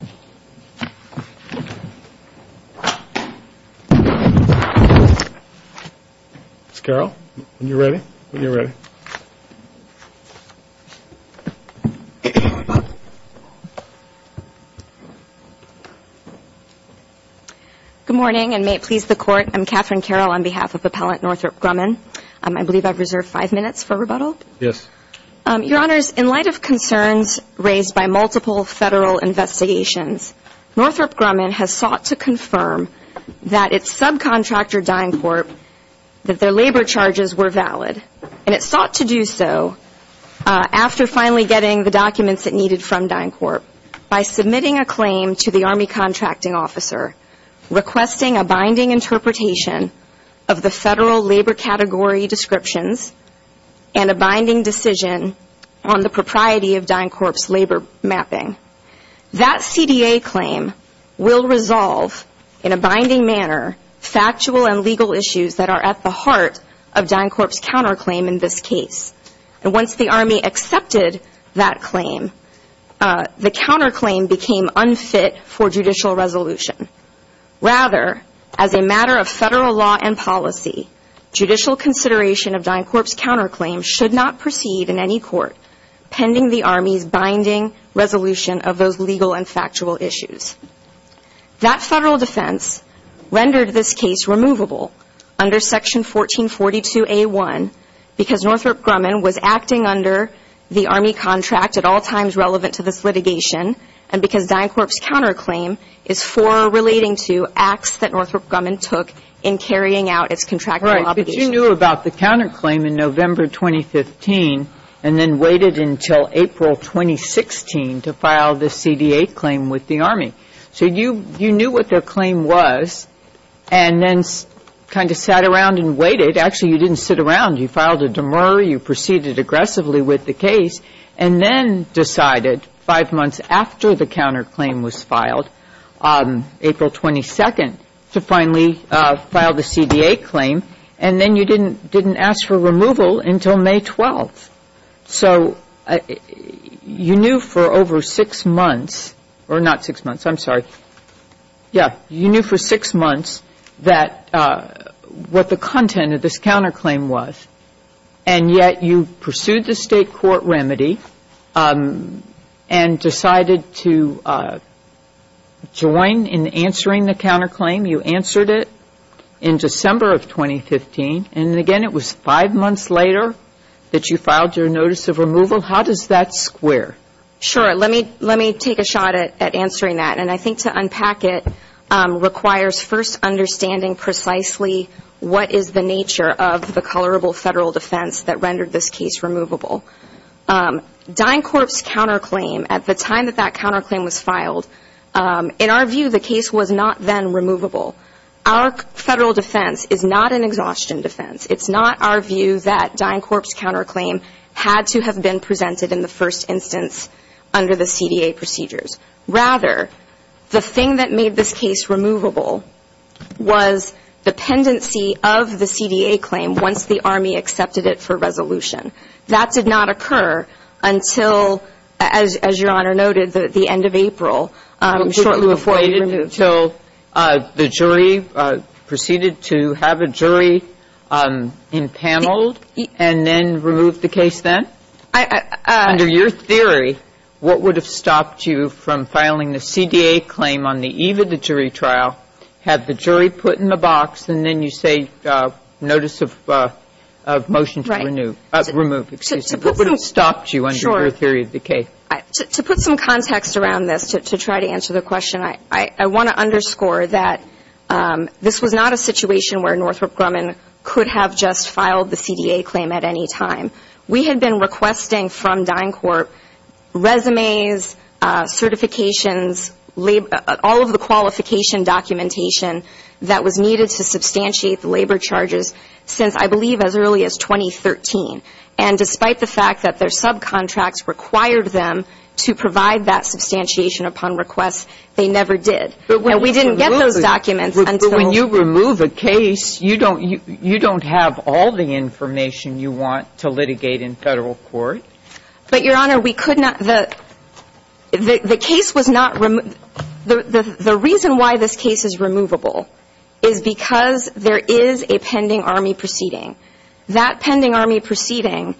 Ms. Carroll, when you're ready, when you're ready. Good morning, and may it please the Court, I'm Catherine Carroll on behalf of Appellant Northrop Grumman. I believe I've reserved five minutes for rebuttal? Yes. Your Honors, in light of concerns raised by multiple Federal investigations, Northrop Grumman has sought to confirm that its subcontractor, DynCorp, that their labor charges were valid. And it sought to do so after finally getting the documents it needed from DynCorp by submitting a claim to the Army Contracting Officer requesting a binding interpretation of the Federal labor category descriptions and a binding decision on the propriety of DynCorp's labor mapping. That CDA claim will resolve, in a binding manner, factual and legal issues that are at the heart of DynCorp's counterclaim in this case. And once the Army accepted that claim, the counterclaim became unfit for judicial resolution. Rather, as a matter of Federal law and policy, judicial consideration of DynCorp's counterclaim should not proceed in any court pending the Army's binding resolution of those legal and factual issues. That Federal defense rendered this case removable under Section 1442A1 because Northrop Grumman was acting under the Army contract at all times relevant to this litigation and because and then waited until April 2016 to file the CDA claim with the Army. So you knew what their claim was and then kind of sat around and waited. Actually, you didn't sit around. You filed a demur. You proceeded aggressively with the case and then decided 5 months after the counterclaim was filed on April 22 to finally file this CDA claim. And then you didn't ask for removal until May 12. So you knew for over 6 months, or not 6 months, I'm sorry. Yeah, you knew for 6 months that what the content of this counterclaim was and yet you pursued the state court remedy and decided to join in answering the counterclaim. You answered it in December of 2015. And again, it was 5 months later that you filed your notice of removal. How does that square? Sure. Let me take a shot at answering that. And I think to unpack it requires first understanding precisely what is the nature of the colorable federal defense that rendered this case removable. DynCorp's counterclaim, at the time that that counterclaim was filed, in our view the case was not then removable. Our federal defense is not an exhaustion defense. It's not our view that DynCorp's counterclaim had to have been presented in the first instance under the CDA procedures. Rather, the thing that made this case removable was the pendency of the CDA claim once the Army accepted it for resolution. That did not occur until, as Your Honor noted, the end of April. Shortly before you did, so the jury proceeded to have a jury impaneled and then remove the case then? Under your theory, what would have stopped you from filing the CDA claim on the eve of the jury trial, have the jury put in the box, and then you say notice of motion to remove. Right. Your theory of the case. To put some context around this to try to answer the question, I want to underscore that this was not a situation where Northrop Grumman could have just filed the CDA claim at any time. We had been requesting from DynCorp resumes, certifications, all of the qualification documentation that was needed to substantiate the labor charges since I believe as early as 2013. And despite the fact that their subcontracts required them to provide that substantiation upon request, they never did. But when you remove it, but when you remove a case, you don't have all the information you want to litigate in Federal court. But Your Honor, we could not, the case was not, the reason why this case is removable is because there is a pending Army proceeding. That pending Army proceeding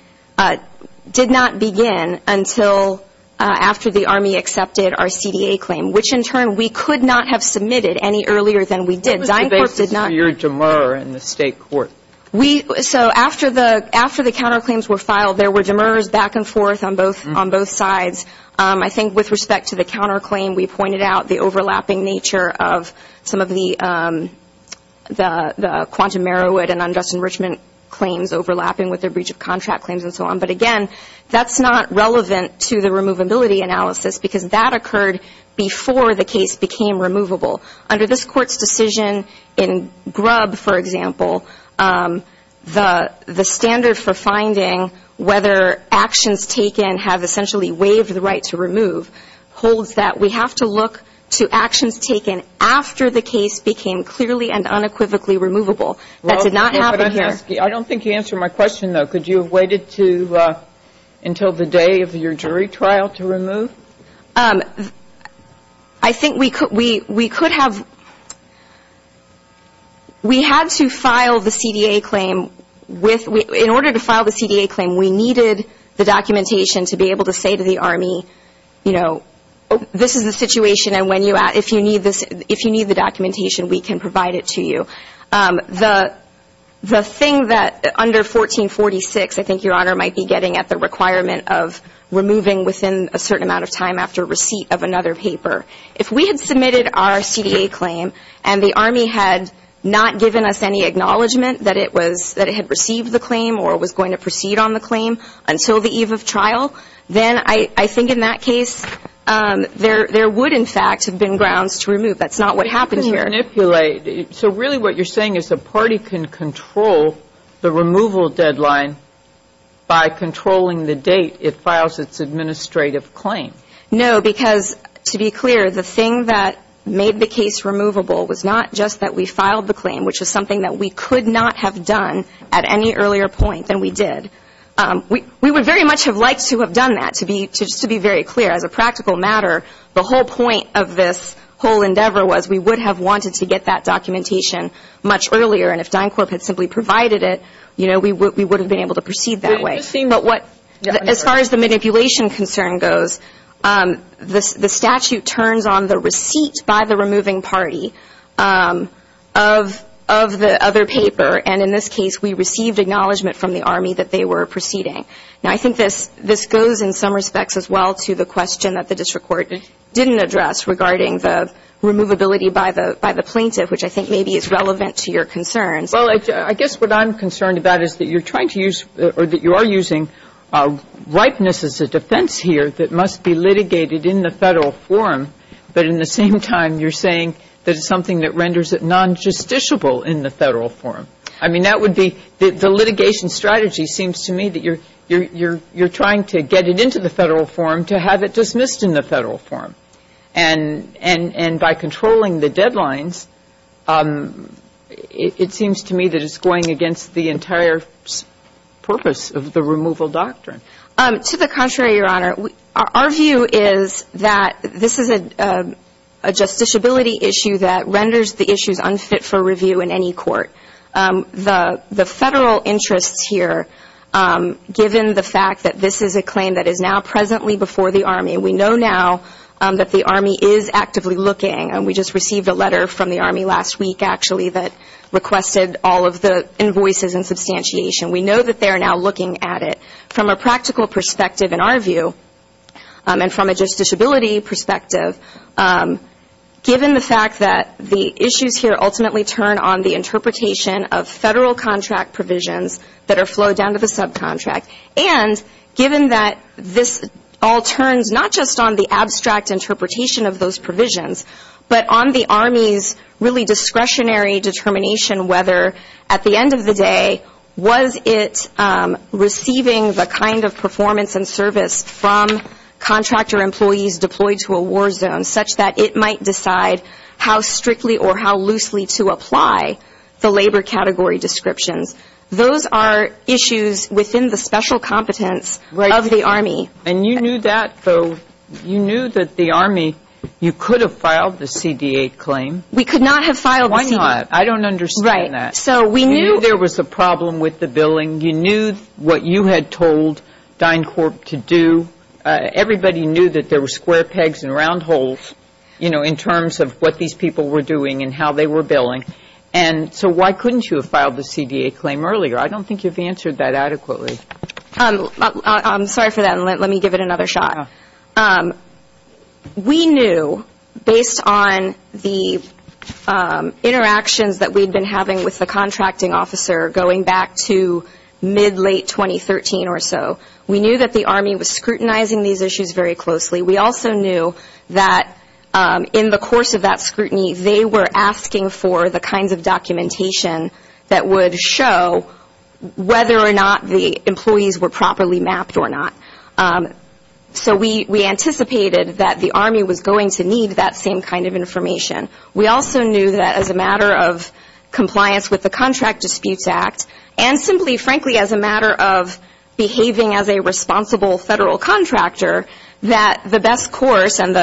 did not begin until after the Army accepted our CDA claim, which in turn we could not have submitted any earlier than we did. DynCorp did not. What was the basis for your demur in the State court? So after the counterclaims were filed, there were demurs back and forth on both sides. I think with respect to the counterclaim, we pointed out the overlapping nature of some of the Quantum Merrowood and Undustin Richmond claims overlapping with their breach of contract claims and so on. But again, that's not relevant to the removability analysis because that occurred before the case became removable. Under this Court's decision in Grubb, for example, the standard for finding whether actions taken have essentially waived the right to remove holds that we have to look to actions taken after the case became clearly and unequivocally removable. That did not happen here. I don't think you answered my question, though. Could you have waited until the day of your jury trial to remove? I think we could have, we had to file the CDA claim with, in order to file the CDA claim, we needed the documentation to be able to say to the Army, you know, this is the situation and if you need the documentation, we can provide it to you. The thing that under 1446, I think Your Honor might be getting at the requirement of removing within a certain amount of time after receipt of another paper. If we had submitted our CDA claim and the Army had not given us any acknowledgment that it was, that it had received the claim or was going to proceed on the claim until the eve of trial, then I think in that case, there would, in fact, have been grounds to remove. That's not what happened here. But you can manipulate, so really what you're saying is the party can control the removal deadline by controlling the date it files its administrative claim. No, because to be clear, the thing that made the case removable was not just that we filed the claim, which was something that we could not have done at any earlier point than we did. We would very much have liked to have done that, to be, just to be very clear. As a practical matter, the whole point of this whole endeavor was we would have wanted to get that documentation much earlier, and if DynCorp had simply provided it, you know, we would have been able to proceed that way. But what, as far as the manipulation concern goes, the statute turns on the receipt by the removing party of the other paper, and in this case, we received acknowledgment from the Army that they were proceeding. Now, I think this goes in some respects as well to the question that the district court didn't address regarding the removability by the plaintiff, which I think maybe is relevant to your concerns. Well, I guess what I'm concerned about is that you're trying to use or that you are using ripeness as a defense here that must be litigated in the Federal forum, but in the same time, you're saying that it's something that renders it non-justiciable in the Federal forum. I mean, that would be the litigation strategy seems to me that you're trying to get it into the Federal forum to have it dismissed in the Federal forum. And by controlling the deadlines, it seems to me that it's going against the entire purpose of the removal doctrine. To the contrary, Your Honor. Our view is that this is a justiciability issue that renders the issues unfit for review in any court. The Federal interests here, given the fact that this is a claim that is now presently before the Army, we know now that the Army is actively looking, and we just received a letter from the Army last week actually that requested all of the invoices and substantiation. We know that they are now looking at it. From a practical perspective in our view, and from a justiciability perspective, given the fact that the issues here ultimately turn on the interpretation of Federal contract provisions that are flowed down to the subcontract, and given that this all turns not just on the abstract interpretation of those provisions, but on the Army's really discretionary determination whether at the end of the day was it receiving the kind of performance and service from contractor employees deployed to a war zone such that it might decide how strictly or how loosely to apply the labor category descriptions. Those are issues within the special competence of the Army. And you knew that, though. You knew that the Army, you could have filed the CD8 claim. We could not have filed the CD8. Why not? I don't understand that. Right. So we knew You knew there was a problem with the billing. You knew what you had told DynCorp to do. Everybody knew that there were square pegs and round holes, you know, in terms of what these people were doing and how they were billing. And so why couldn't you have filed the CD8 claim earlier? I don't think you've answered that adequately. I'm sorry for that. Let me give it another shot. We knew, based on the interactions that we'd been having with the contracting officer going back to mid-late 2013 or so, we knew that the Army was scrutinizing these issues very closely. We also knew that in the course of that scrutiny, they were asking for the kinds of documentation that would show whether or not the employees were properly mapped or not. So we anticipated that the Army was going to need that same kind of information. We also knew that as a matter of compliance with the Contract Disputes Act and simply, frankly, as a matter of behaving as a responsible federal contractor, that the best course and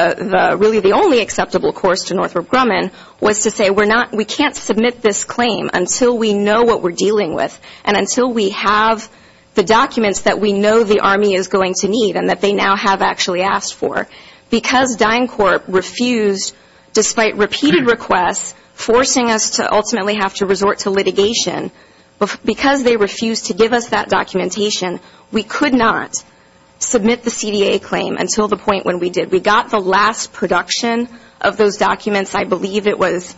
really the only acceptable course to Northrop Grumman was to say we're not, we can't submit this claim until we know what we're dealing with and until we have the documents that we know the Army is going to need and that they now have actually asked for. Because DynCorp refused, despite repeated requests forcing us to ultimately have to resort to litigation, because they refused to give us that documentation, we could not submit the CD8 claim until the point when we did. We got the last production of those documents, I believe it was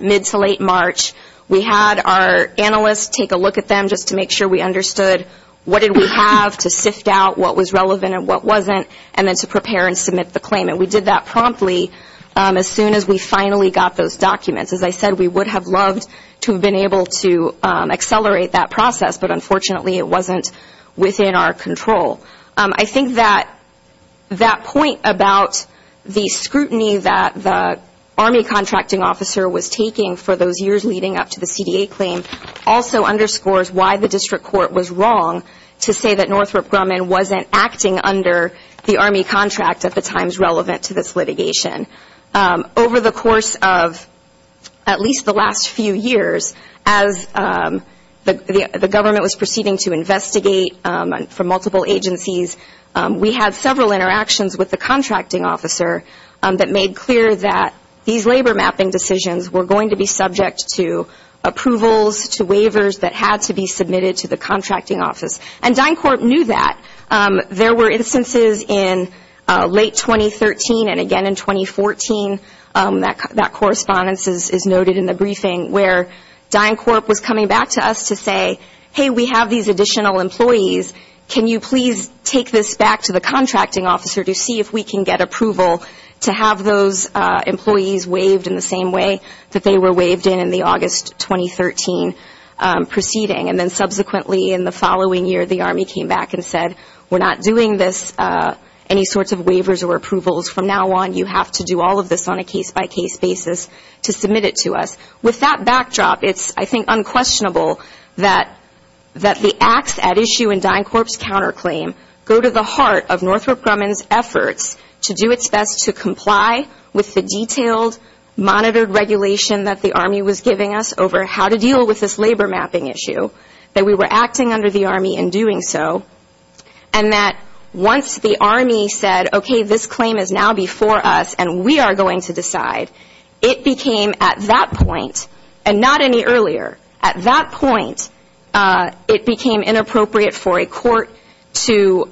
mid to late March. We had our analysts take a look at them just to make sure we understood what did we have to sift out what was relevant and what wasn't and then to prepare and submit the claim. And we did that promptly as soon as we finally got those documents. As I said, we would have loved to have been able to accelerate that process, but unfortunately it wasn't within our control. I think that that point about the scrutiny that the Army contracting officer was taking for those years leading up to the CD8 claim also underscores why the district court was wrong to say that Northrop Grumman wasn't acting under the Army contract at the times relevant to this litigation. Over the course of at least the last few years, as the government was proceeding to investigate from multiple agencies, we had several interactions with the contracting officer that made clear that these labor mapping decisions were going to be subject to approvals, to waivers that had to be submitted to the contracting office. And DynCorp knew that. There were instances in late 2013 and again in 2014, that correspondence is noted in the briefing, where DynCorp was coming back to us to say, hey, we have these contracting officers to see if we can get approval to have those employees waived in the same way that they were waived in in the August 2013 proceeding. And then subsequently in the following year, the Army came back and said, we're not doing this, any sorts of waivers or approvals. From now on, you have to do all of this on a case-by-case basis to submit it to us. With that backdrop, it's, I think, unquestionable that the acts at issue in DynCorp's counterclaim go to the heart of Northrop Grumman's efforts to do its best to comply with the detailed, monitored regulation that the Army was giving us over how to deal with this labor mapping issue, that we were acting under the Army in doing so, and that once the Army said, okay, this claim is now before us and we are going to decide, it became at that point, and not any earlier, at that point, it became inappropriate for a court to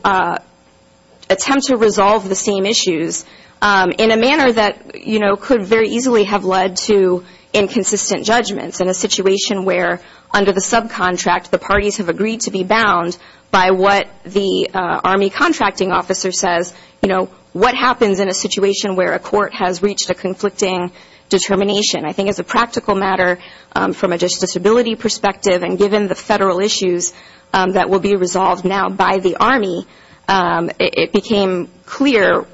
attempt to resolve the same issues in a manner that, you know, could very easily have led to inconsistent judgments in a situation where under the subcontract, the parties have agreed to be bound by what the Army contracting officer says, you know, what happens in a determination. I think as a practical matter, from a disability perspective and given the Federal issues that will be resolved now by the Army, it became clear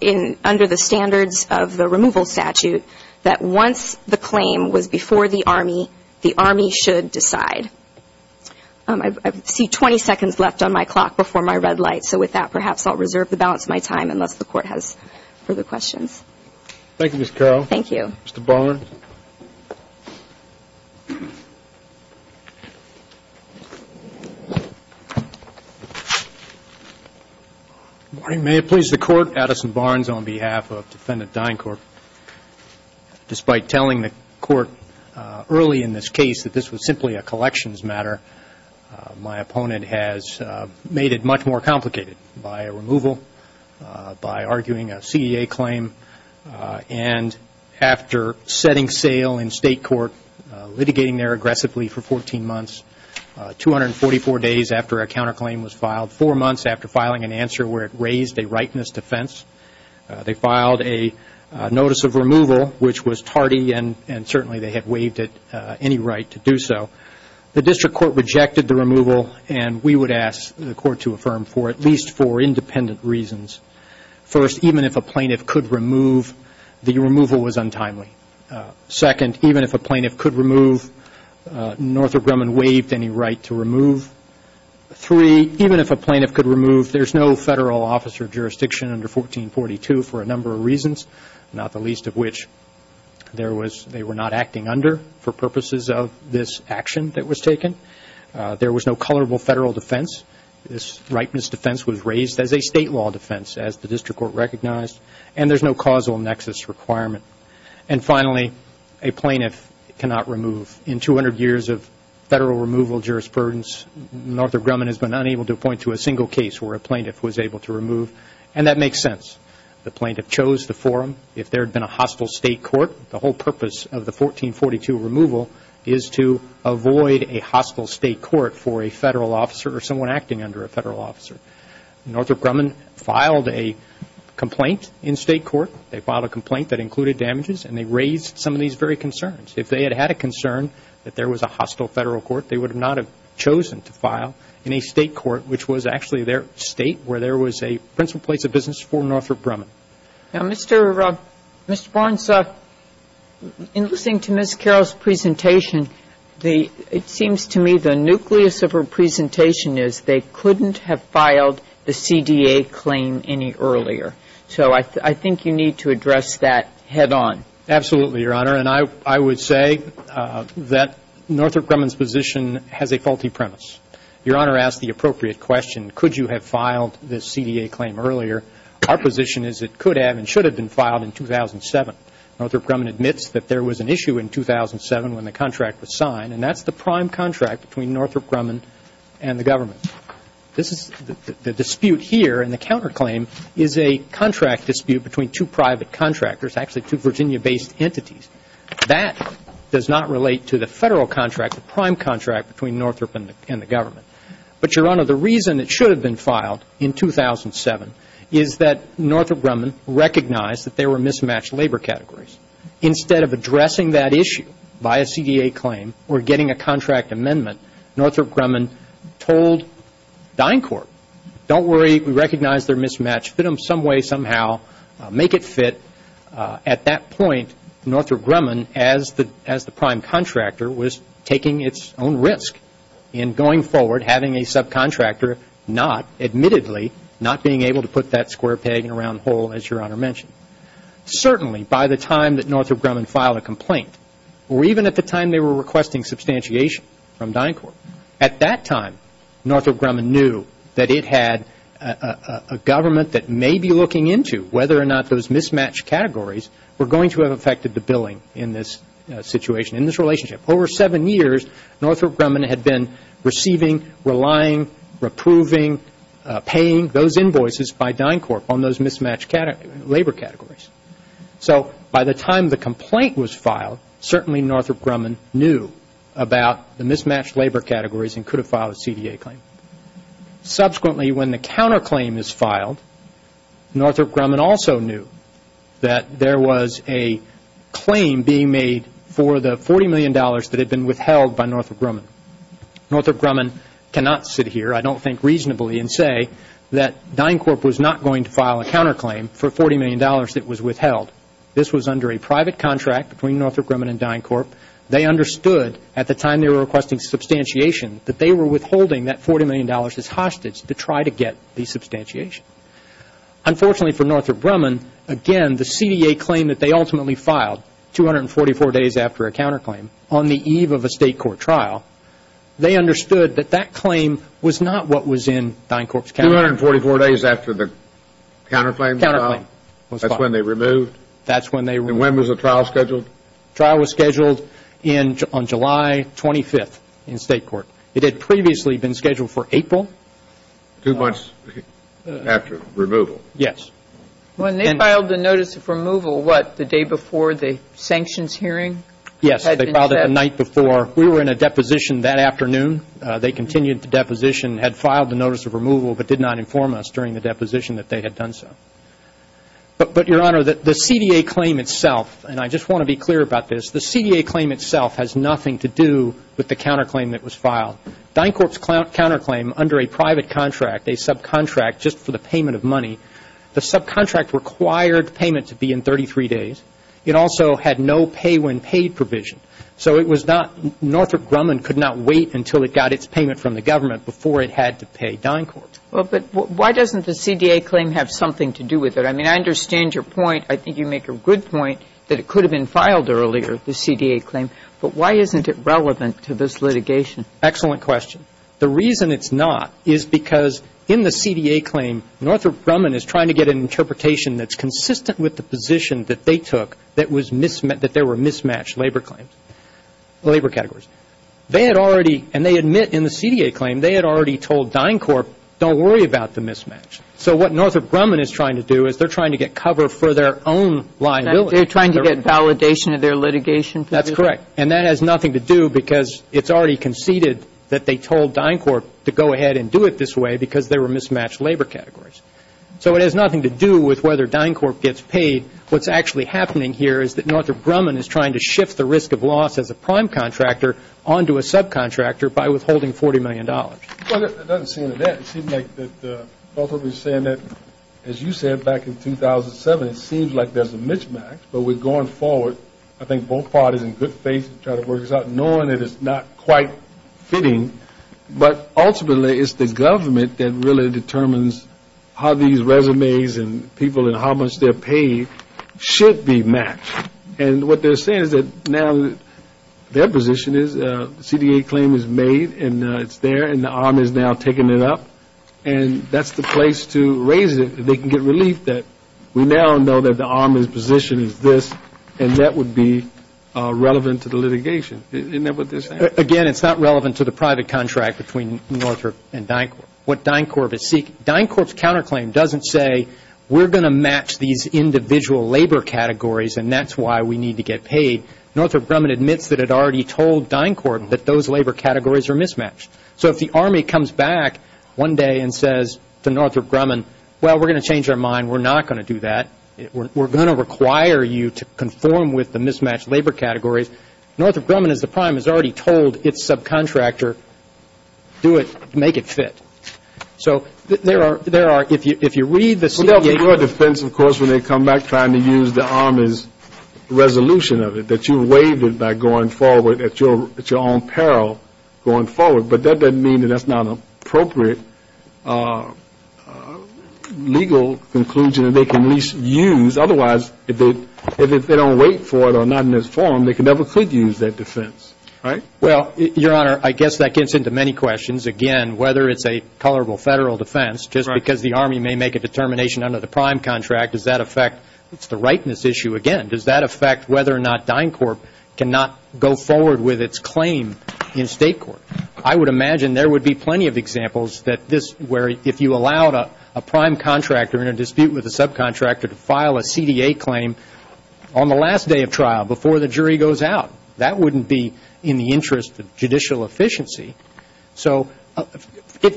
in, under the standards of the removal statute, that once the claim was before the Army, the Army should decide. I see 20 seconds left on my clock before my red light, so with that, perhaps I'll reserve the balance of my time unless the Court has further questions. Thank you, Ms. Carroll. Thank you. Mr. Barnes. Good morning. May it please the Court, Addison Barnes on behalf of Defendant Dyncourt. Despite telling the Court early in this case that this was simply a collections matter, my opponent has made it much more complicated by a removal, by arguing a CEA claim, and after setting sale in state court, litigating there aggressively for 14 months, 244 days after a counterclaim was filed, four months after filing an answer where it raised a rightness defense, they filed a notice of removal which was tardy and certainly they had waived it any right to do so. The District Court rejected the removal and we would ask the Court to affirm for at least four independent reasons. First, even if a plaintiff could remove, the removal was untimely. Second, even if a plaintiff could remove, Northrop Grumman waived any right to remove. Three, even if a plaintiff could remove, there's no federal office or jurisdiction under 1442 for a number of reasons, not the least of which they were not acting under for purposes of this action that was taken. There was no colorable federal defense. This rightness defense was raised as a state law defense, as the District Court recognized, and there's no causal nexus requirement. And finally, a plaintiff cannot remove. In 200 years of federal removal jurisprudence, Northrop Grumman has been unable to appoint to a single case where a plaintiff was able to remove, and that makes sense. The plaintiff chose the forum. If there had been a hostile state court, the whole purpose of the 1442 removal is to avoid a hostile state court for a federal officer or someone acting under a federal officer. Northrop Grumman filed a complaint in state court. They filed a complaint that included damages, and they raised some of these very concerns. If they had had a concern that there was a hostile federal court, they would not have chosen to file in a state court which was actually their state where there was a principal place of business for Northrop Grumman. Now, Mr. Barnes, in listening to Ms. Carroll's presentation, it seems to me the nucleus of her presentation is they couldn't have filed the CDA claim any earlier. So I think you need to address that head on. Absolutely, Your Honor. And I would say that Northrop Grumman's position has a faulty premise. Your Honor asked the appropriate question, could you have filed the CDA claim earlier. Our position is it could have and should have been filed in 2007. Northrop Grumman admits that there was an issue in 2007 when the contract was signed, and that's the prime contract between Northrop Grumman and the government. This is the dispute here, and the counterclaim is a contract dispute between two private contractors, actually two Virginia-based entities. That does not relate to the federal contract, the prime contract between Northrop Grumman and the government. But, Your Honor, the reason it should have been filed in 2007 is that Northrop Grumman recognized that there were mismatched labor categories. Instead of addressing that issue by a CDA claim or getting a contract amendment, Northrop Grumman told DynCorp, don't worry, we recognize they're mismatched, fit them some way somehow, make it fit. At that point, Northrop Grumman, as the prime contractor, was taking its own risk in going forward, having a subcontractor not, admittedly, not being able to put that square peg in a round hole, as Your Honor mentioned. Certainly, by the time that Northrop Grumman filed a complaint, or even at the time they were requesting substantiation from DynCorp, at that time, Northrop Grumman knew that it had a government that may be looking into whether or not those mismatched categories were going to have affected the billing in this situation, in this relationship. Over seven years, Northrop Grumman had been receiving, relying, approving, paying those invoices by DynCorp on those mismatched labor categories. So, by the time the complaint was filed, certainly Northrop Grumman knew about the mismatched labor categories and could have filed a CDA claim. Subsequently, when the counterclaim is filed, Northrop Grumman also knew that there was a claim being made for the $40 million that had been withheld by Northrop Grumman. Northrop Grumman cannot sit here, I don't think reasonably, and say that DynCorp was not going to file a counterclaim for $40 million that was withheld. This was under a private contract between Northrop Grumman and DynCorp. They understood, at the time they were requesting substantiation, that they were withholding that $40 million as hostage to try to get the substantiation. Unfortunately for Northrop Grumman, again, the CDA claim that they ultimately filed, 244 days after a counterclaim, on the eve of a State court trial, they understood that that claim was not what was in DynCorp's counterclaim. Two hundred and forty-four days after the counterclaim? Counterclaim was filed. That's when they removed? That's when they removed. And when was the trial scheduled? Trial was scheduled on July 25th in State court. It had previously been scheduled for April. Two months after removal? Yes. When they filed the notice of removal, what, the day before the sanctions hearing? Yes, they filed it the night before. We were in a deposition that afternoon. They continued the deposition, had filed the notice of removal, but did not inform us during the deposition that they had done so. But, Your Honor, the CDA claim itself, and I just want to be clear about this, the CDA claim itself has nothing to do with the counterclaim that was filed. DynCorp's counterclaim under a private contract, a subcontract just for the payment of money, the subcontract required payment to be in 33 days. It also had no pay when paid provision. So it was not, Northrop Grumman could not wait until it got its payment from the government before it had to pay DynCorp. Well, but why doesn't the CDA claim have something to do with it? I mean, I understand your point. I think you make a good point that it could have been filed earlier, the CDA claim. But why isn't it relevant to this litigation? Excellent question. The reason it's not is because in the CDA claim, Northrop Grumman is trying to get an interpretation that's consistent with the position that they took that was mismatched, that there were mismatched labor claims, labor categories. They had already, and they admit in the CDA claim, they had already told DynCorp, don't worry about the mismatch. So what Northrop Grumman is trying to do is they're trying to get cover for their own liability. They're trying to get validation of their litigation? That's correct. And that has nothing to do because it's already conceded that they told DynCorp to go ahead and do it this way because there were mismatched labor categories. So it has nothing to do with whether DynCorp gets paid. What's actually happening here is that Northrop Grumman is trying to shift the risk of loss as a prime contractor onto a subcontractor by withholding $40 million. It doesn't seem like that. It seems like that Northrop is saying that, as you said back in 2007, it seems like there's a mismatch. But we're going forward, I think both parties in good faith to try to work this out, knowing that it's not quite fitting. But ultimately, it's the government that really determines how these resumes and people and how much they're paid should be matched. And what they're saying is that now their position is the CDA claim is made and it's there and the arm is now taking it up. And that's the place to raise it. They can get relief that we now know that the arm's position is this and that would be relevant to the litigation. Isn't that what they're saying? Again, it's not relevant to the private contract between Northrop and DynCorp. What DynCorp is seeking, DynCorp's counterclaim doesn't say we're going to match these individual labor categories and that's why we need to get paid. Northrop Grumman admits that it already told DynCorp that those labor categories are mismatched. So if the army comes back one day and says to Northrop Grumman, well, we're going to change our mind. We're not going to do that. We're going to require you to conform with the mismatched labor categories. Northrop Grumman, as the prime, has already told its subcontractor, do it, make it fit. So there are, if you read the CDA... Well, that'll be your defense, of course, when they come back trying to use the army's resolution of it, that you waived it by going forward at your own peril going forward. But that doesn't mean that that's not an appropriate legal conclusion that they can at least use. Otherwise, if they don't wait for it or not in this forum, they never could use that defense, right? Well, Your Honor, I guess that gets into many questions. Again, whether it's a matter of whether the army may make a determination under the prime contract, does that affect... It's the rightness issue again. Does that affect whether or not DynCorp cannot go forward with its claim in state court? I would imagine there would be plenty of examples that this, where if you allowed a prime contractor in a dispute with a subcontractor to file a CDA claim on the last day of trial, before the jury goes out, that wouldn't be in the interest of judicial efficiency. So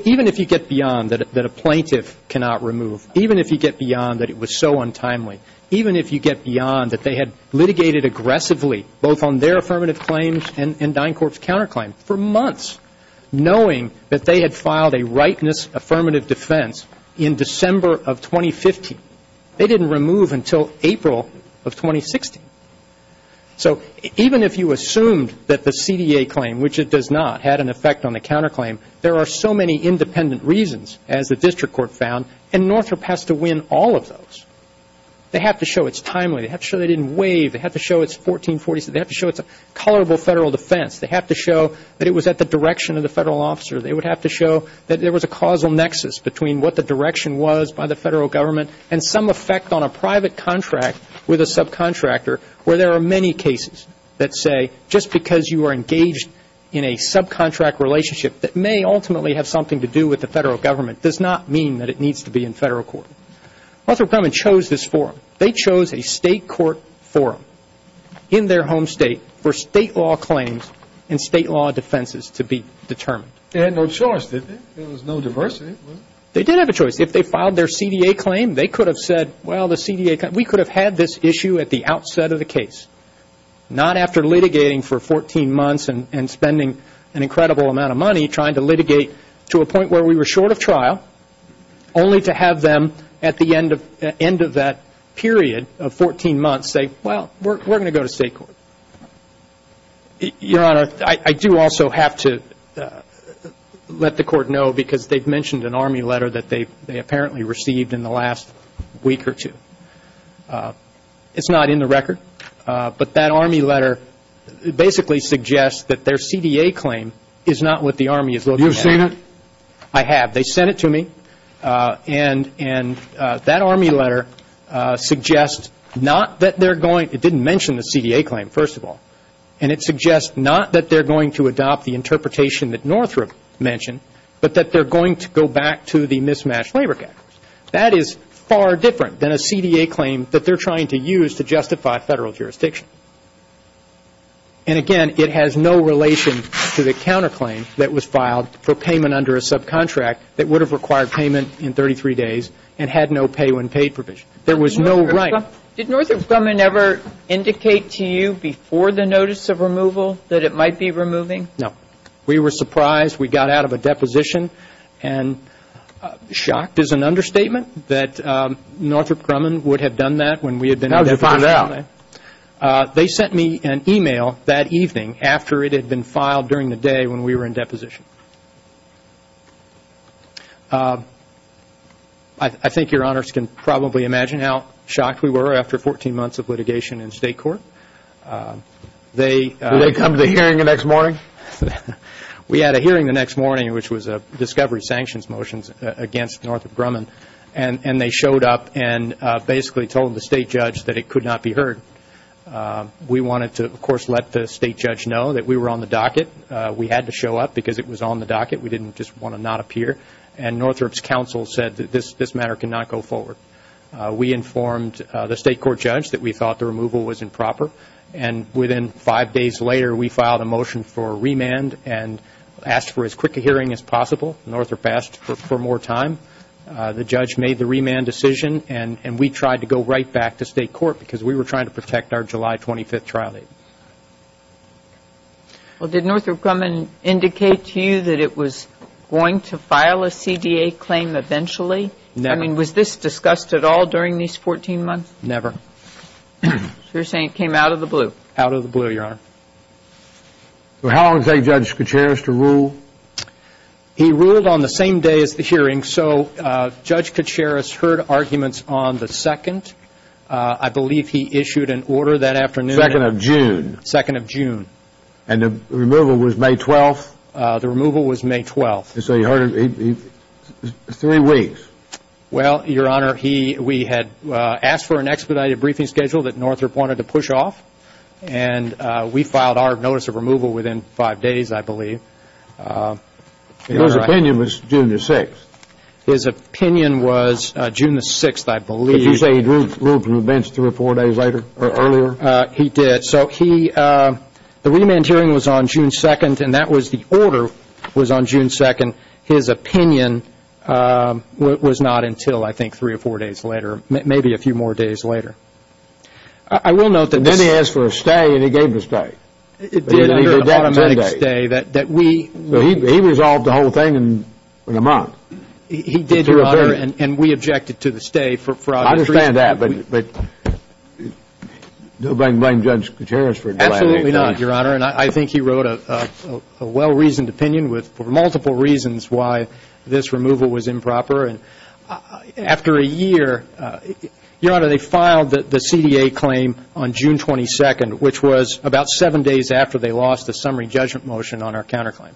even if you get beyond that a plaintiff cannot remove, even if you get beyond that it was so untimely, even if you get beyond that they had litigated aggressively both on their affirmative claims and DynCorp's counterclaim for months, knowing that they had filed a rightness affirmative defense in December of 2015, they didn't remove until April of 2016. So even if you assumed that the DynCorp had an effect on the counterclaim, there are so many independent reasons, as the district court found, and Northrop has to win all of those. They have to show it's timely. They have to show they didn't waive. They have to show it's 1447. They have to show it's a colorable Federal defense. They have to show that it was at the direction of the Federal officer. They would have to show that there was a causal nexus between what the direction was by the Federal government and some effect on a private contract with a subcontractor, where there are many cases that say just because you are engaged in a subcontract relationship that may ultimately have something to do with the Federal government does not mean that it needs to be in Federal court. Northrop Grumman chose this forum. They chose a state court forum in their home state for state law claims and state law defenses to be determined. They had no choice, didn't they? There was no diversity. They did have a choice. If they filed their CDA claim, they could have said, well, the CDA, we could have had this issue at the outset of the case, not after litigating for 14 months and spending an incredible amount of money trying to litigate to a point where we were short of trial, only to have them at the end of that period of 14 months say, well, we're going to go to state court. Your Honor, I do also have to let the Court know because they've mentioned an army letter in the last week or two. It's not in the record, but that army letter basically suggests that their CDA claim is not what the Army is looking at. You've seen it? I have. They sent it to me, and that army letter suggests not that they're going to, it didn't mention the CDA claim, first of all, and it suggests not that they're going to adopt the interpretation that Northrop mentioned, but that they're going to go back to the mismatched labor cactus. That is far different than a CDA claim that they're trying to use to justify Federal jurisdiction. And again, it has no relation to the counterclaim that was filed for payment under a subcontract that would have required payment in 33 days and had no pay when paid provision. There was no right. Did Northrop Grumman ever indicate to you before the notice of removal that it might be removing? No. We were surprised. We got out of a deposition, and shocked is an understatement that Northrop Grumman would have done that when we had been in deposition. How did you find out? They sent me an e-mail that evening after it had been filed during the day when we were in deposition. I think your honors can probably imagine how shocked we were after 14 months of litigation in state court. Did they come to the hearing the next morning? We had a hearing the next morning, which was a discovery sanctions motion against Northrop Grumman. And they showed up and basically told the state judge that it could not be heard. We wanted to, of course, let the state judge know that we were on the docket. We had to show up because it was on the docket. We didn't just want to not appear. And Northrop's counsel said that this matter cannot go forward. We informed the state court judge that we thought the removal was improper. And within five days later, we filed a motion for remand and asked for as quick a hearing as possible. Northrop asked for more time. The judge made the remand decision, and we tried to go right back to state court because we were trying to protect our July 25th trial date. Well, did Northrop Grumman indicate to you that it was going to file a CDA claim eventually? Never. I mean, was this discussed at all during these 14 months? Never. So you're saying it came out of the blue? Out of the blue, Your Honor. So how long did Judge Kuceris take to rule? He ruled on the same day as the hearing. So Judge Kuceris heard arguments on the 2nd. I believe he issued an order that afternoon. 2nd of June. 2nd of June. And the removal was May 12th? The removal was May 12th. So you heard it three weeks? Well, Your Honor, we had asked for an expedited briefing schedule that Northrop wanted to push off, and we filed our notice of removal within five days, I believe. And his opinion was June the 6th? His opinion was June the 6th, I believe. Did he say he ruled from the bench three or four days later, or earlier? He did. So the remand hearing was on June 2nd, and that was the order was on June 2nd. His opinion was not until, I think, three or four days later. Maybe a few more days later. I will note that this... And then he asked for a stay, and he gave the stay. It did, under an automatic stay that we... So he resolved the whole thing in a month? He did, Your Honor, and we objected to the stay for obvious reasons. I understand that, but do I blame Judge Kuceris for... Absolutely not, Your Honor, and I think he wrote a well-reasoned opinion with multiple reasons why this removal was improper. After a year... Your Honor, they filed the CDA claim on June 22nd, which was about seven days after they lost the summary judgment motion on our counterclaim.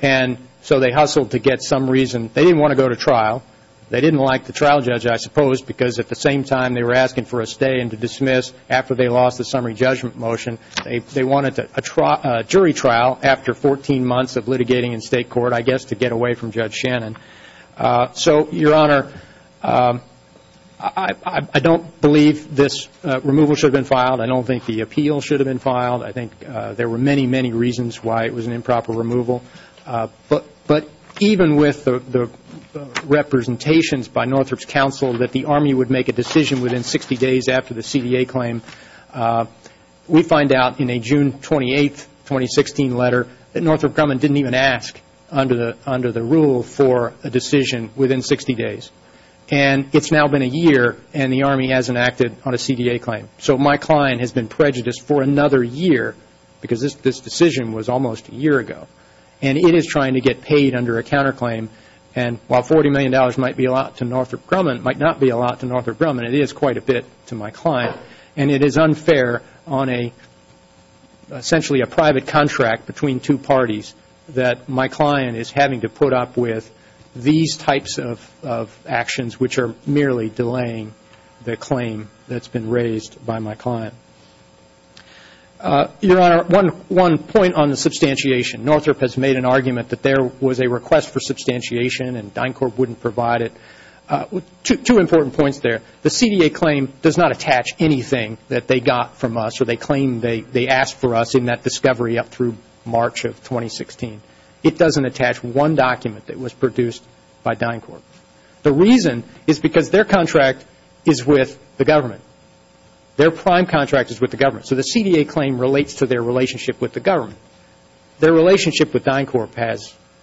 And so they hustled to get some reason. They didn't want to go to trial. They didn't like the trial judge, I suppose, because at the same time they were asking for a stay and to dismiss after they lost the summary judgment motion. They wanted a jury trial after 14 months of litigating in state court, I guess, to get away from Judge Shannon. So Your Honor, I don't believe this removal should have been filed. I don't think the appeal should have been filed. I think there were many, many reasons why it was an improper removal. But even with the representations by Northrop's counsel that the Army would make a decision within 60 days after the CDA claim, we find out in a June 28th, 2016 letter that Northrop Grumman didn't even ask under the rule for a decision within 60 days. And it's now been a year and the Army hasn't acted on a CDA claim. So my client has been prejudiced for another year because this decision was almost a year ago. And it is trying to get paid under a counterclaim. And while $40 million might be a lot to Northrop Grumman, it might not be a lot to Northrop Grumman. And it is unfair on essentially a private contract between two parties that my client is having to put up with these types of actions which are merely delaying the claim that's been raised by my client. Your Honor, one point on the substantiation. Northrop has made an argument that there was a request for substantiation and DynCorp wouldn't provide it. Two important points there. The CDA claim does not attach anything that they got from us or they claim they asked for us in that discovery up through March of 2016. It doesn't attach one document that was produced by DynCorp. The reason is because their contract is with the government. Their prime contract is with the government. So the CDA claim relates to their relationship with the government. Their relationship with DynCorp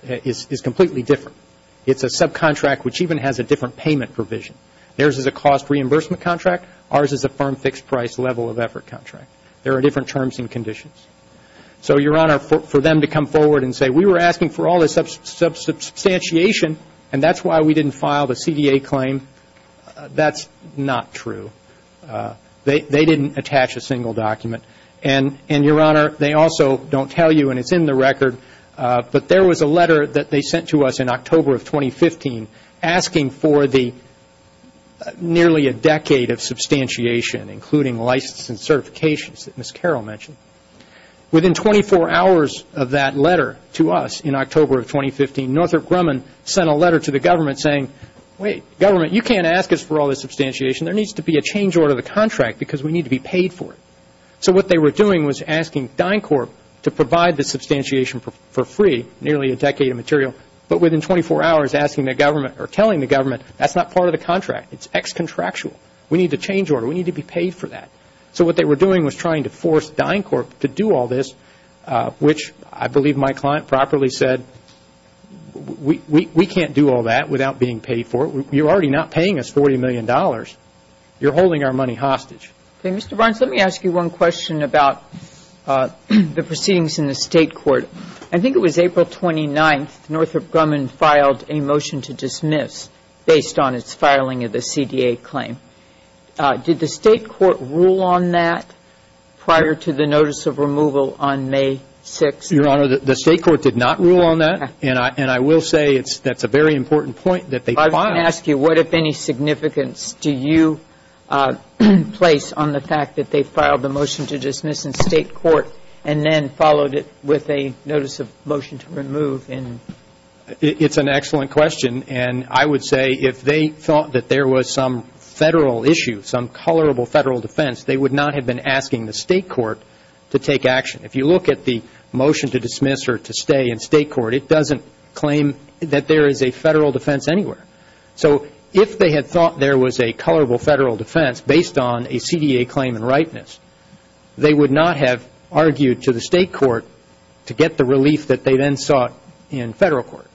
is completely different. It's a subcontract which even has a different payment provision. Theirs is a cost reimbursement contract. Ours is a firm fixed price level of effort contract. There are different terms and conditions. So Your Honor, for them to come forward and say we were asking for all this substantiation and that's why we didn't file the CDA claim, that's not true. They didn't attach a single document. And Your Honor, they also don't tell you and it's in the record, but there was a letter that they sent to us in October of 2015 asking for the nearly a decade of substantiation, including license and certifications that Ms. Carroll mentioned. Within 24 hours of that letter to us in October of 2015, Northrop Grumman sent a letter to the government saying, wait, government, you can't ask us for all this substantiation. There needs to be a change order of the contract because we need to be paid for it. So what they were doing was asking DynCorp to provide the substantiation for free nearly a decade of material, but within 24 hours asking the government or telling the government that's not part of the contract. It's ex-contractual. We need to change order. We need to be paid for that. So what they were doing was trying to force DynCorp to do all this, which I believe my client properly said, we can't do all that without being paid for it. You're already not paying us $40 million. You're holding our money hostage. Okay, Mr. Barnes, let me ask you one question about the proceedings in the State Court. I think it was April 29th, Northrop Grumman filed a motion to dismiss based on its filing of the CDA claim. Did the State Court rule on that prior to the notice of removal on May 6th? Your Honor, the State Court did not rule on that, and I will say that's a very important point that they filed. I'm going to ask you, what, if any, significance do you place on the fact that they filed the notice of motion to remove in? It's an excellent question, and I would say if they thought that there was some Federal issue, some colorable Federal defense, they would not have been asking the State Court to take action. If you look at the motion to dismiss or to stay in State Court, it doesn't claim that there is a Federal defense anywhere. So if they had thought there was a colorable Federal defense based on a CDA claim in ripeness, they would not have argued to the State Court to get the relief that they then sought in Federal court.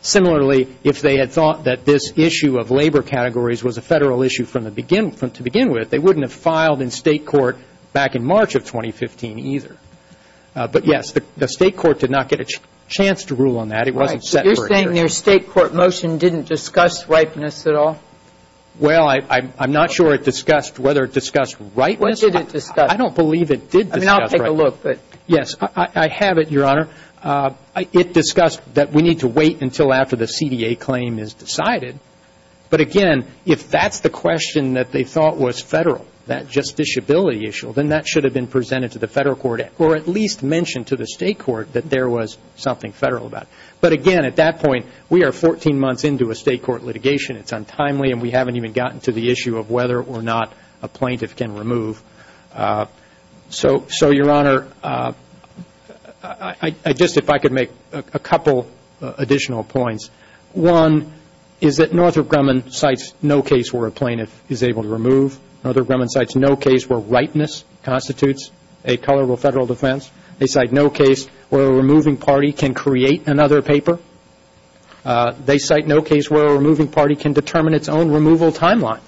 Similarly, if they had thought that this issue of labor categories was a Federal issue from the begin to begin with, they wouldn't have filed in State Court back in March of 2015 either. But, yes, the State Court did not get a chance to rule on that. It wasn't set for a jury. Right. So you're saying their State Court motion didn't discuss ripeness at all? Well, I'm not sure it discussed whether it discussed ripeness. What did it discuss? I don't believe it did discuss ripeness. I mean, I'll take a look, but yes. I have it, Your Honor. It discussed that we need to wait until after the CDA claim is decided. But, again, if that's the question that they thought was Federal, that justiciability issue, then that should have been presented to the Federal court or at least mentioned to the State court that there was something Federal about it. But, again, at that point, we are 14 months into a State court litigation. It's untimely and we haven't even gotten to the issue of whether or not a plaintiff can remove. So, Your Honor, I just, if I could make a couple additional points. One is that Northrop Grumman cites no case where a plaintiff is able to remove. Northrop Grumman cites no case where ripeness constitutes a colorable Federal defense. They cite no case where a removing party can create another paper. They cite no case where a removing party can determine its own removal timeline.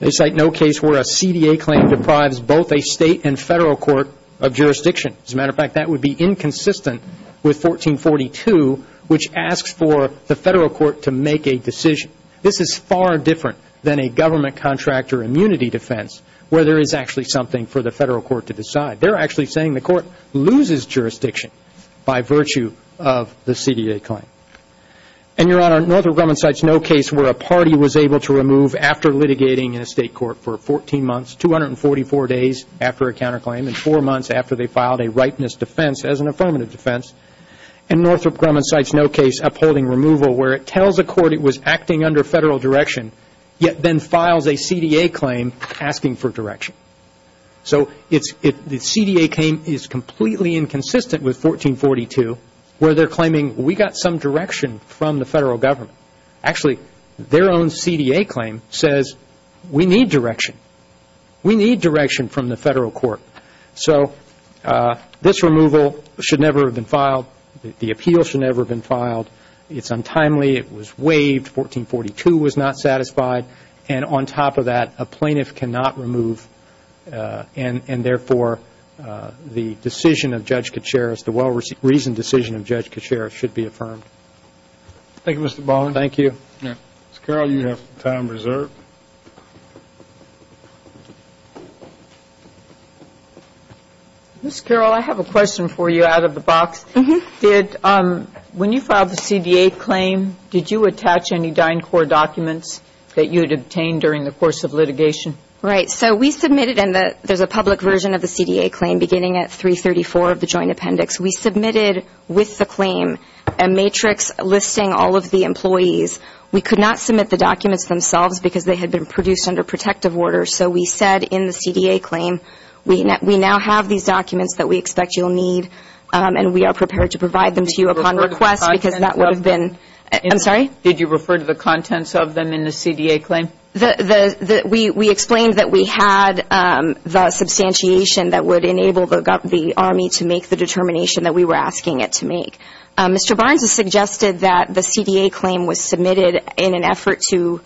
They cite no case where a CDA claim deprives both a State and Federal court of jurisdiction. As a matter of fact, that would be inconsistent with 1442, which asks for the Federal court to make a decision. This is far different than a government contractor immunity defense, where there is actually something for the Federal court to decide. They're actually saying the court loses jurisdiction by virtue of the CDA claim. And, Your Honor, Northrop Grumman cites no case where a party was able to remove after litigating in a State court for 14 months, 244 days after a counterclaim, and four months after they filed a ripeness defense as an affirmative defense. And Northrop Grumman cites no case upholding removal where it tells a court it was acting under Federal direction, yet then files a CDA claim asking for direction. So the CDA claim is completely inconsistent with 1442, where they're claiming, we got some direction from the Federal government. Actually, their own CDA claim says, we need direction. We need direction from the Federal court. So this removal should never have been filed. The appeal should never have been filed. It's untimely. It was waived. 1442 was not satisfied. And on top of that, a plaintiff cannot remove. And therefore, the decision of Judge Katsharis, the well-reasoned decision of Judge Katsharis should be affirmed. Thank you, Mr. Bowen. Thank you. Ms. Carroll, you have time reserved. Ms. Carroll, I have a question for you out of the box. When you filed the CDA claim, did you attach any Dine Corps documents that you had obtained during the course of litigation? Right. So we submitted, and there's a public version of the CDA claim beginning at 334 of the Joint Appendix. We submitted with the claim a matrix listing all of the employees. We could not submit the documents themselves because they had been produced under protective order. So we said in the CDA claim, we now have these documents that we expect you'll need. And we are prepared to provide them to you upon request because that would have been Did you refer to the contents of them? I'm sorry? Did you refer to the contents of them in the CDA claim? We explained that we had the substantiation that would enable the Army to make the determination that we were asking it to make. Mr. Barnes has suggested that the CDA claim was submitted in an effort to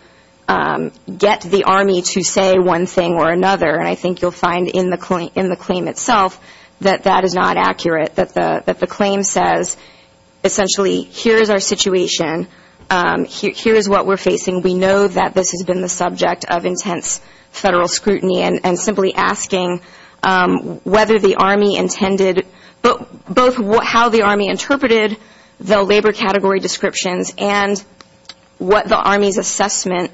get the Army to say one thing or another, and I think you'll find in the claim itself that that is not accurate, that the claim says essentially, here's our situation, here's what we're facing. We know that this has been the subject of intense Federal scrutiny and simply asking whether the Army intended, both how the Army interpreted the labor category descriptions and what the Army's assessment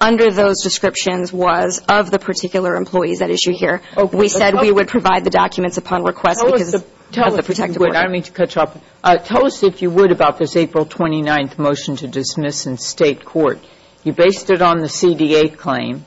under those descriptions was of the particular employees at issue here. We said we would provide the documents upon request because of the protective order. Tell us, if you would, about this April 29th motion to dismiss in state court. You based it on the CDA claim,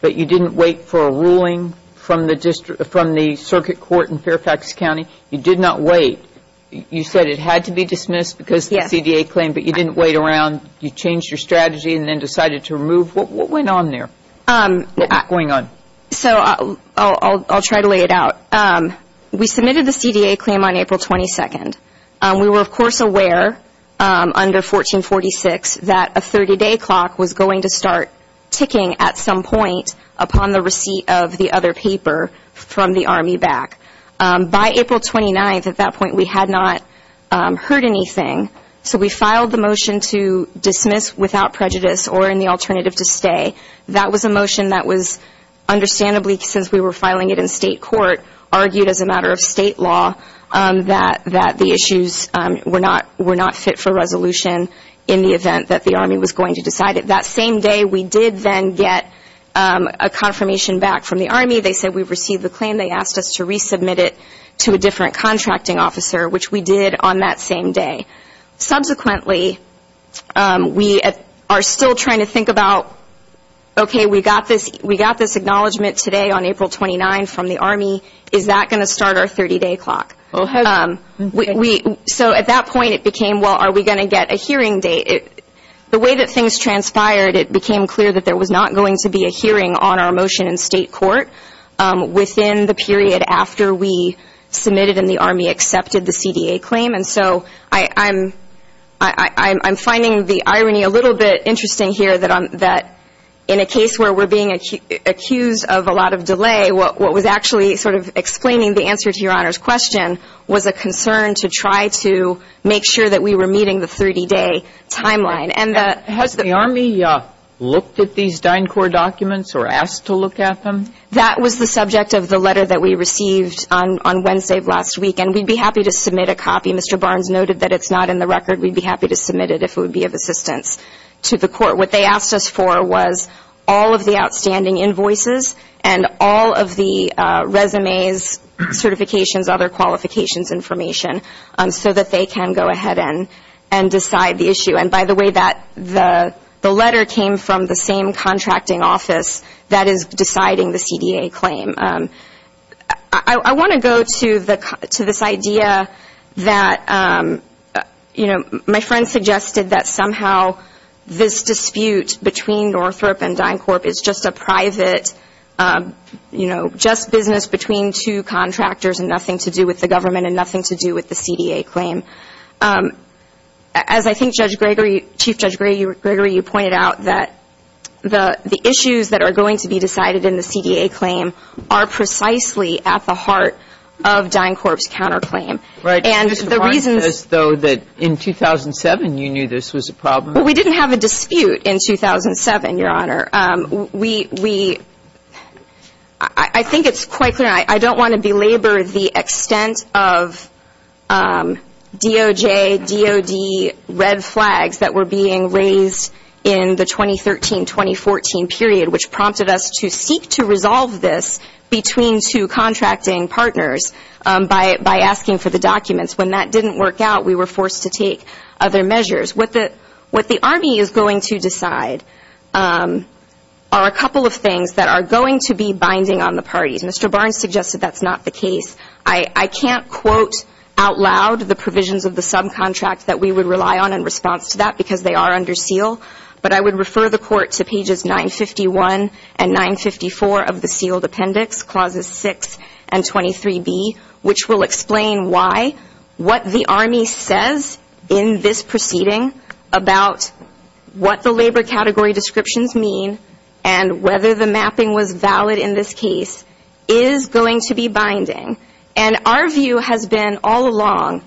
but you didn't wait for a ruling from the circuit court in Fairfax County. You did not wait. You said it had to be dismissed because of the CDA claim, but you didn't wait around. You changed your strategy and then decided to remove. What went on there? What was going on? So I'll try to lay it out. We submitted the CDA claim on April 22nd. We were, of course, aware under 1446 that a 30-day clock was going to start ticking at some point upon the receipt of the other paper from the Army back. By April 29th, at that point, we had not heard anything. So we filed the motion to dismiss without prejudice or in the alternative to stay. That was a motion that was, understandably, since we were filing it in state court, argued as a matter of state law that the issues were not fit for resolution in the event that the Army was going to decide it. That same day, we did then get a confirmation back from the Army. They said we've received the claim. They asked us to resubmit it to a different contracting officer, which we did on that same day. Subsequently, we are still trying to think about, okay, we got this acknowledgment today on April 29th from the Army. Is that going to start our 30-day clock? So at that point, it became, well, are we going to get a hearing date? The way that things transpired, it became clear that there was not going to be a hearing on our motion in state court within the period after we submitted and the Army accepted the CDA claim. So I'm finding the irony a little bit interesting here that in a case where we're being accused of a lot of delay, what was actually sort of explaining the answer to Your Honor's question was a concern to try to make sure that we were meeting the 30-day timeline. Has the Army looked at these Dine Corps documents or asked to look at them? That was the subject of the letter that we received on Wednesday of last week, and we'd be happy to submit a copy. Mr. Barnes noted that it's not in the record. We'd be happy to submit it if it would be of assistance to the court. What they asked us for was all of the outstanding invoices and all of the resumes, certifications, other qualifications information, so that they can go ahead and decide the issue. And by the way, the letter came from the same contracting office that is deciding the CDA claim. I want to go to this idea that, you know, my friend suggested that somehow this dispute between Northrop and Dine Corp is just a private, you know, just business between two contractors and nothing to do with the government and nothing to do with the CDA claim. As I think Judge Gregory, Chief Judge Gregory, you pointed out that the issues that are going to be decided in the CDA claim are precisely at the heart of Dine Corp's counterclaim. And the reason is though that in 2007, you knew this was a problem. We didn't have a dispute in 2007, Your Honor. I think it's quite clear, and I don't want to belabor the extent of DOJ, DOD red flags that were being raised in the 2013-2014 period, which prompted us to seek to resolve this between two contracting partners by asking for the documents. When that didn't work out, we were forced to take other measures. What the Army is going to decide are a couple of things that are going to be binding on the parties. Mr. Barnes suggested that's not the case. I can't quote out loud the provisions of the subcontract that we would rely on in response to that because they are under seal, but I would refer the Court to pages 951 and 954 of the sealed appendix, clauses 6 and 23B, which will explain why what the Army says in this proceeding about what the labor category descriptions mean and whether the mapping was valid in this case is going to be binding. Our view has been all along,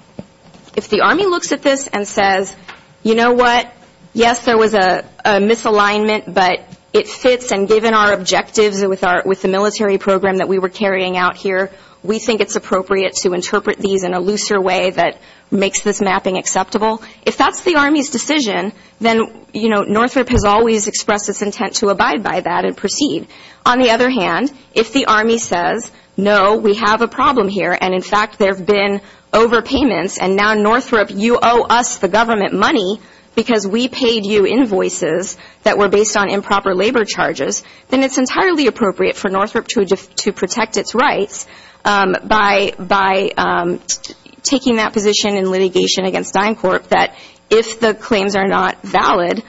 if the Army looks at this and says, you know what, yes, there was a misalignment, but it fits, and given our objectives with the military program that we were carrying out here, we think it's appropriate to interpret these in a looser way that makes this mapping acceptable. If that's the Army's decision, then Northrop has always expressed its intent to abide by that and proceed. On the other hand, if the Army says, no, we have a problem here, and in fact there have been overpayments, and now Northrop, you owe us the government money because we paid you invoices that were based on improper labor charges, then it's entirely appropriate for Northrop to protect its rights by taking that position in litigation against DynCorp that if the claims are not valid,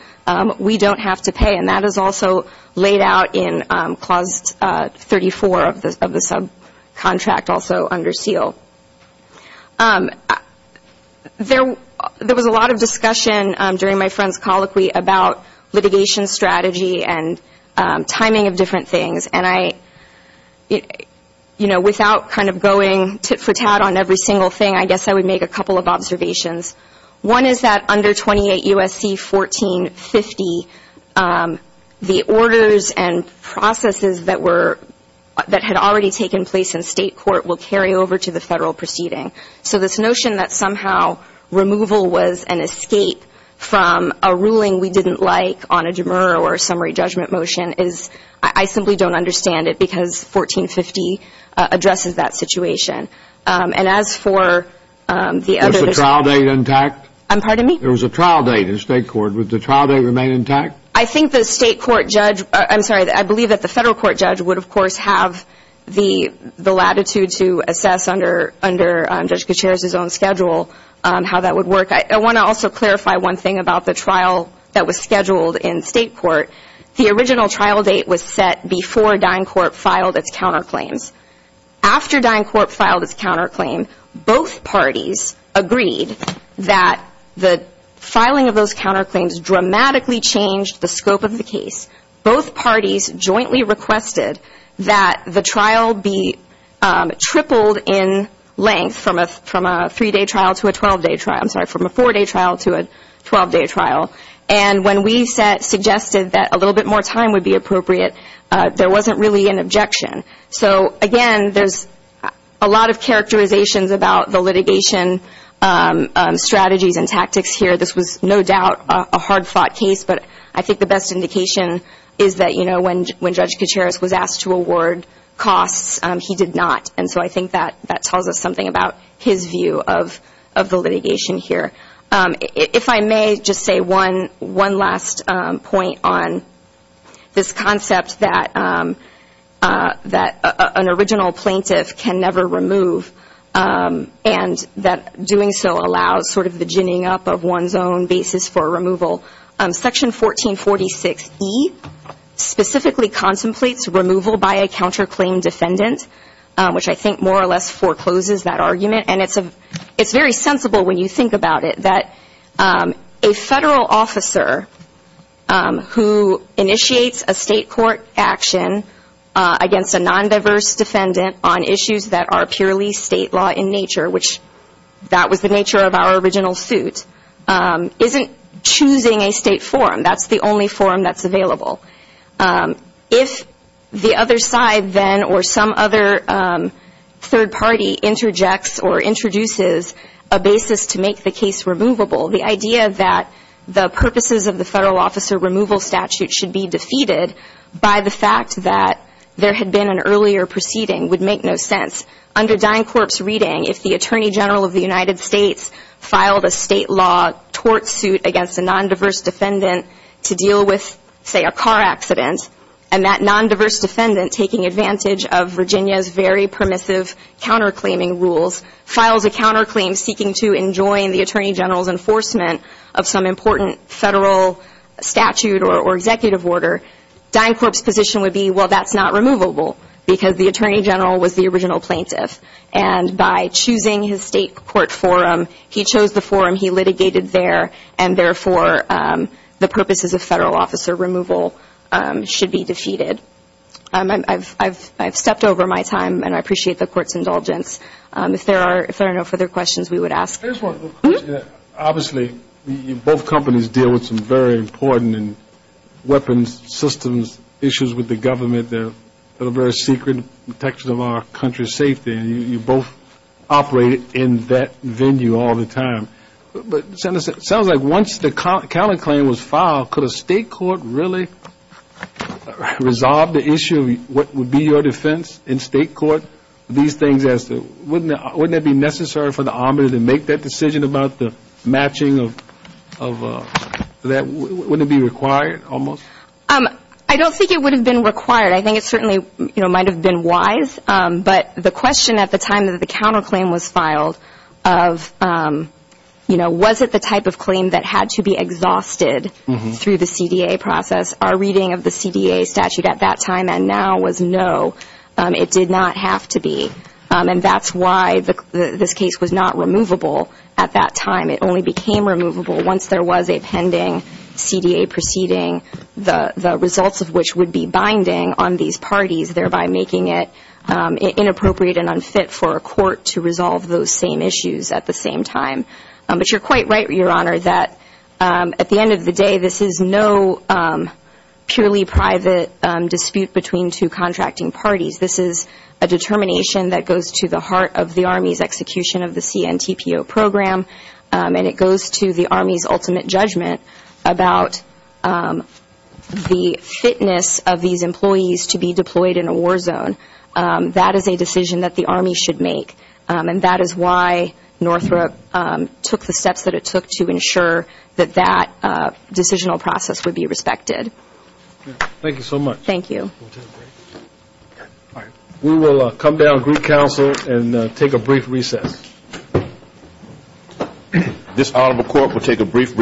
we don't have to pay, and that is also laid out in clause 34 of the subcontract also under SEAL. There was a lot of discussion during my friend's colloquy about litigation strategy and timing of different things, and I, you know, without kind of going tit for tat on every single thing, I guess I would make a couple of observations. One is that under 28 U.S.C. 1450, the orders and processes that were, that had already taken place in state court will carry over to the federal proceeding. So this notion that somehow removal was an escape from a ruling we didn't like on a demer or summary judgment motion is, I simply don't understand it because 1450 addresses that situation. And as for the other... Was the trial date intact? I'm pardon me? There was a trial date in state court. Would the trial date remain intact? I think the state court judge, I'm sorry, I believe that the federal court judge would of course have the latitude to assess under Judge Gutierrez's own schedule how that would work. I want to also clarify one thing about the trial that was scheduled in state court. The original trial date was set before DynCorp filed its counterclaims. After DynCorp filed its counterclaim, both parties agreed that the filing of those counterclaims dramatically changed the scope of the case. Both parties jointly requested that the trial be tripled in length from a three-day trial to a 12-day trial, I'm sorry, from a four-day trial to a 12-day trial. And when we suggested that a little bit more time would be appropriate, there wasn't really an objection. So again, there's a lot of characterizations about the litigation strategies and tactics here. This was no doubt a hard-fought case, but I think the best indication is that when Judge Gutierrez was asked to award costs, he did not. And so I think that tells us something about his view of the litigation here. If I may just say one last point on this concept that an original plaintiff can never remove and that doing so allows sort of the ginning up of one's own basis for removal. Section 1446E specifically contemplates removal by a counterclaim defendant, which I think more or less forecloses that argument. And it's very sensible when you think about it that a federal officer who initiates a state court action against a non-diverse defendant on issues that are purely state law in nature, which that was the nature of our original suit, isn't choosing a state forum. If the other side then or some other third party interjects or introduces a basis to make the case removable, the idea that the purposes of the federal officer removal statute should be defeated by the fact that there had been an earlier proceeding would make no sense. Under DynCorp's reading, if the Attorney General of the United States filed a state law tort suit against a non-diverse defendant to deal with, say, a car accident, and that non-diverse defendant, taking advantage of Virginia's very permissive counterclaiming rules, files a counterclaim seeking to enjoin the Attorney General's enforcement of some important federal statute or executive order, DynCorp's position would be, well, that's not removable because the Attorney General was the original plaintiff. And by choosing his state court forum, he chose the forum he litigated there, and therefore the purposes of federal officer removal should be defeated. I've stepped over my time, and I appreciate the Court's indulgence. If there are no further questions, we would ask. First one, obviously, both companies deal with some very important weapons systems issues with the government, the very secret protection of our country's safety, and you both operate in that venue all the time. But it sounds like once the counterclaim was filed, could a state court really resolve the issue of what would be your defense in state court? These things, wouldn't it be necessary for the Army to make that decision about the matching of that? Wouldn't it be required, almost? I don't think it would have been required. I think it certainly might have been wise. But the question at the time that the counterclaim was filed of, you know, was it the type of claim that had to be exhausted through the CDA process? Our reading of the CDA statute at that time and now was, no, it did not have to be. And that's why this case was not removable at that time. It only became removable once there was a pending CDA proceeding, the results of which would be binding on these parties, thereby making it inappropriate and unfit for a court to resolve those same issues at the same time. But you're quite right, Your Honor, that at the end of the day, this is no purely private dispute between two contracting parties. This is a determination that goes to the heart of the Army's execution of the CNTPO program, and it goes to the Army's ultimate judgment about the fitness of these employees to be deployed in a war zone. That is a decision that the Army should make. And that is why Northrop took the steps that it took to ensure that that decisional process would be respected. Thank you so much. Thank you. We will come down to the Greek Council and take a brief recess. This Honorable Court will take a brief recess.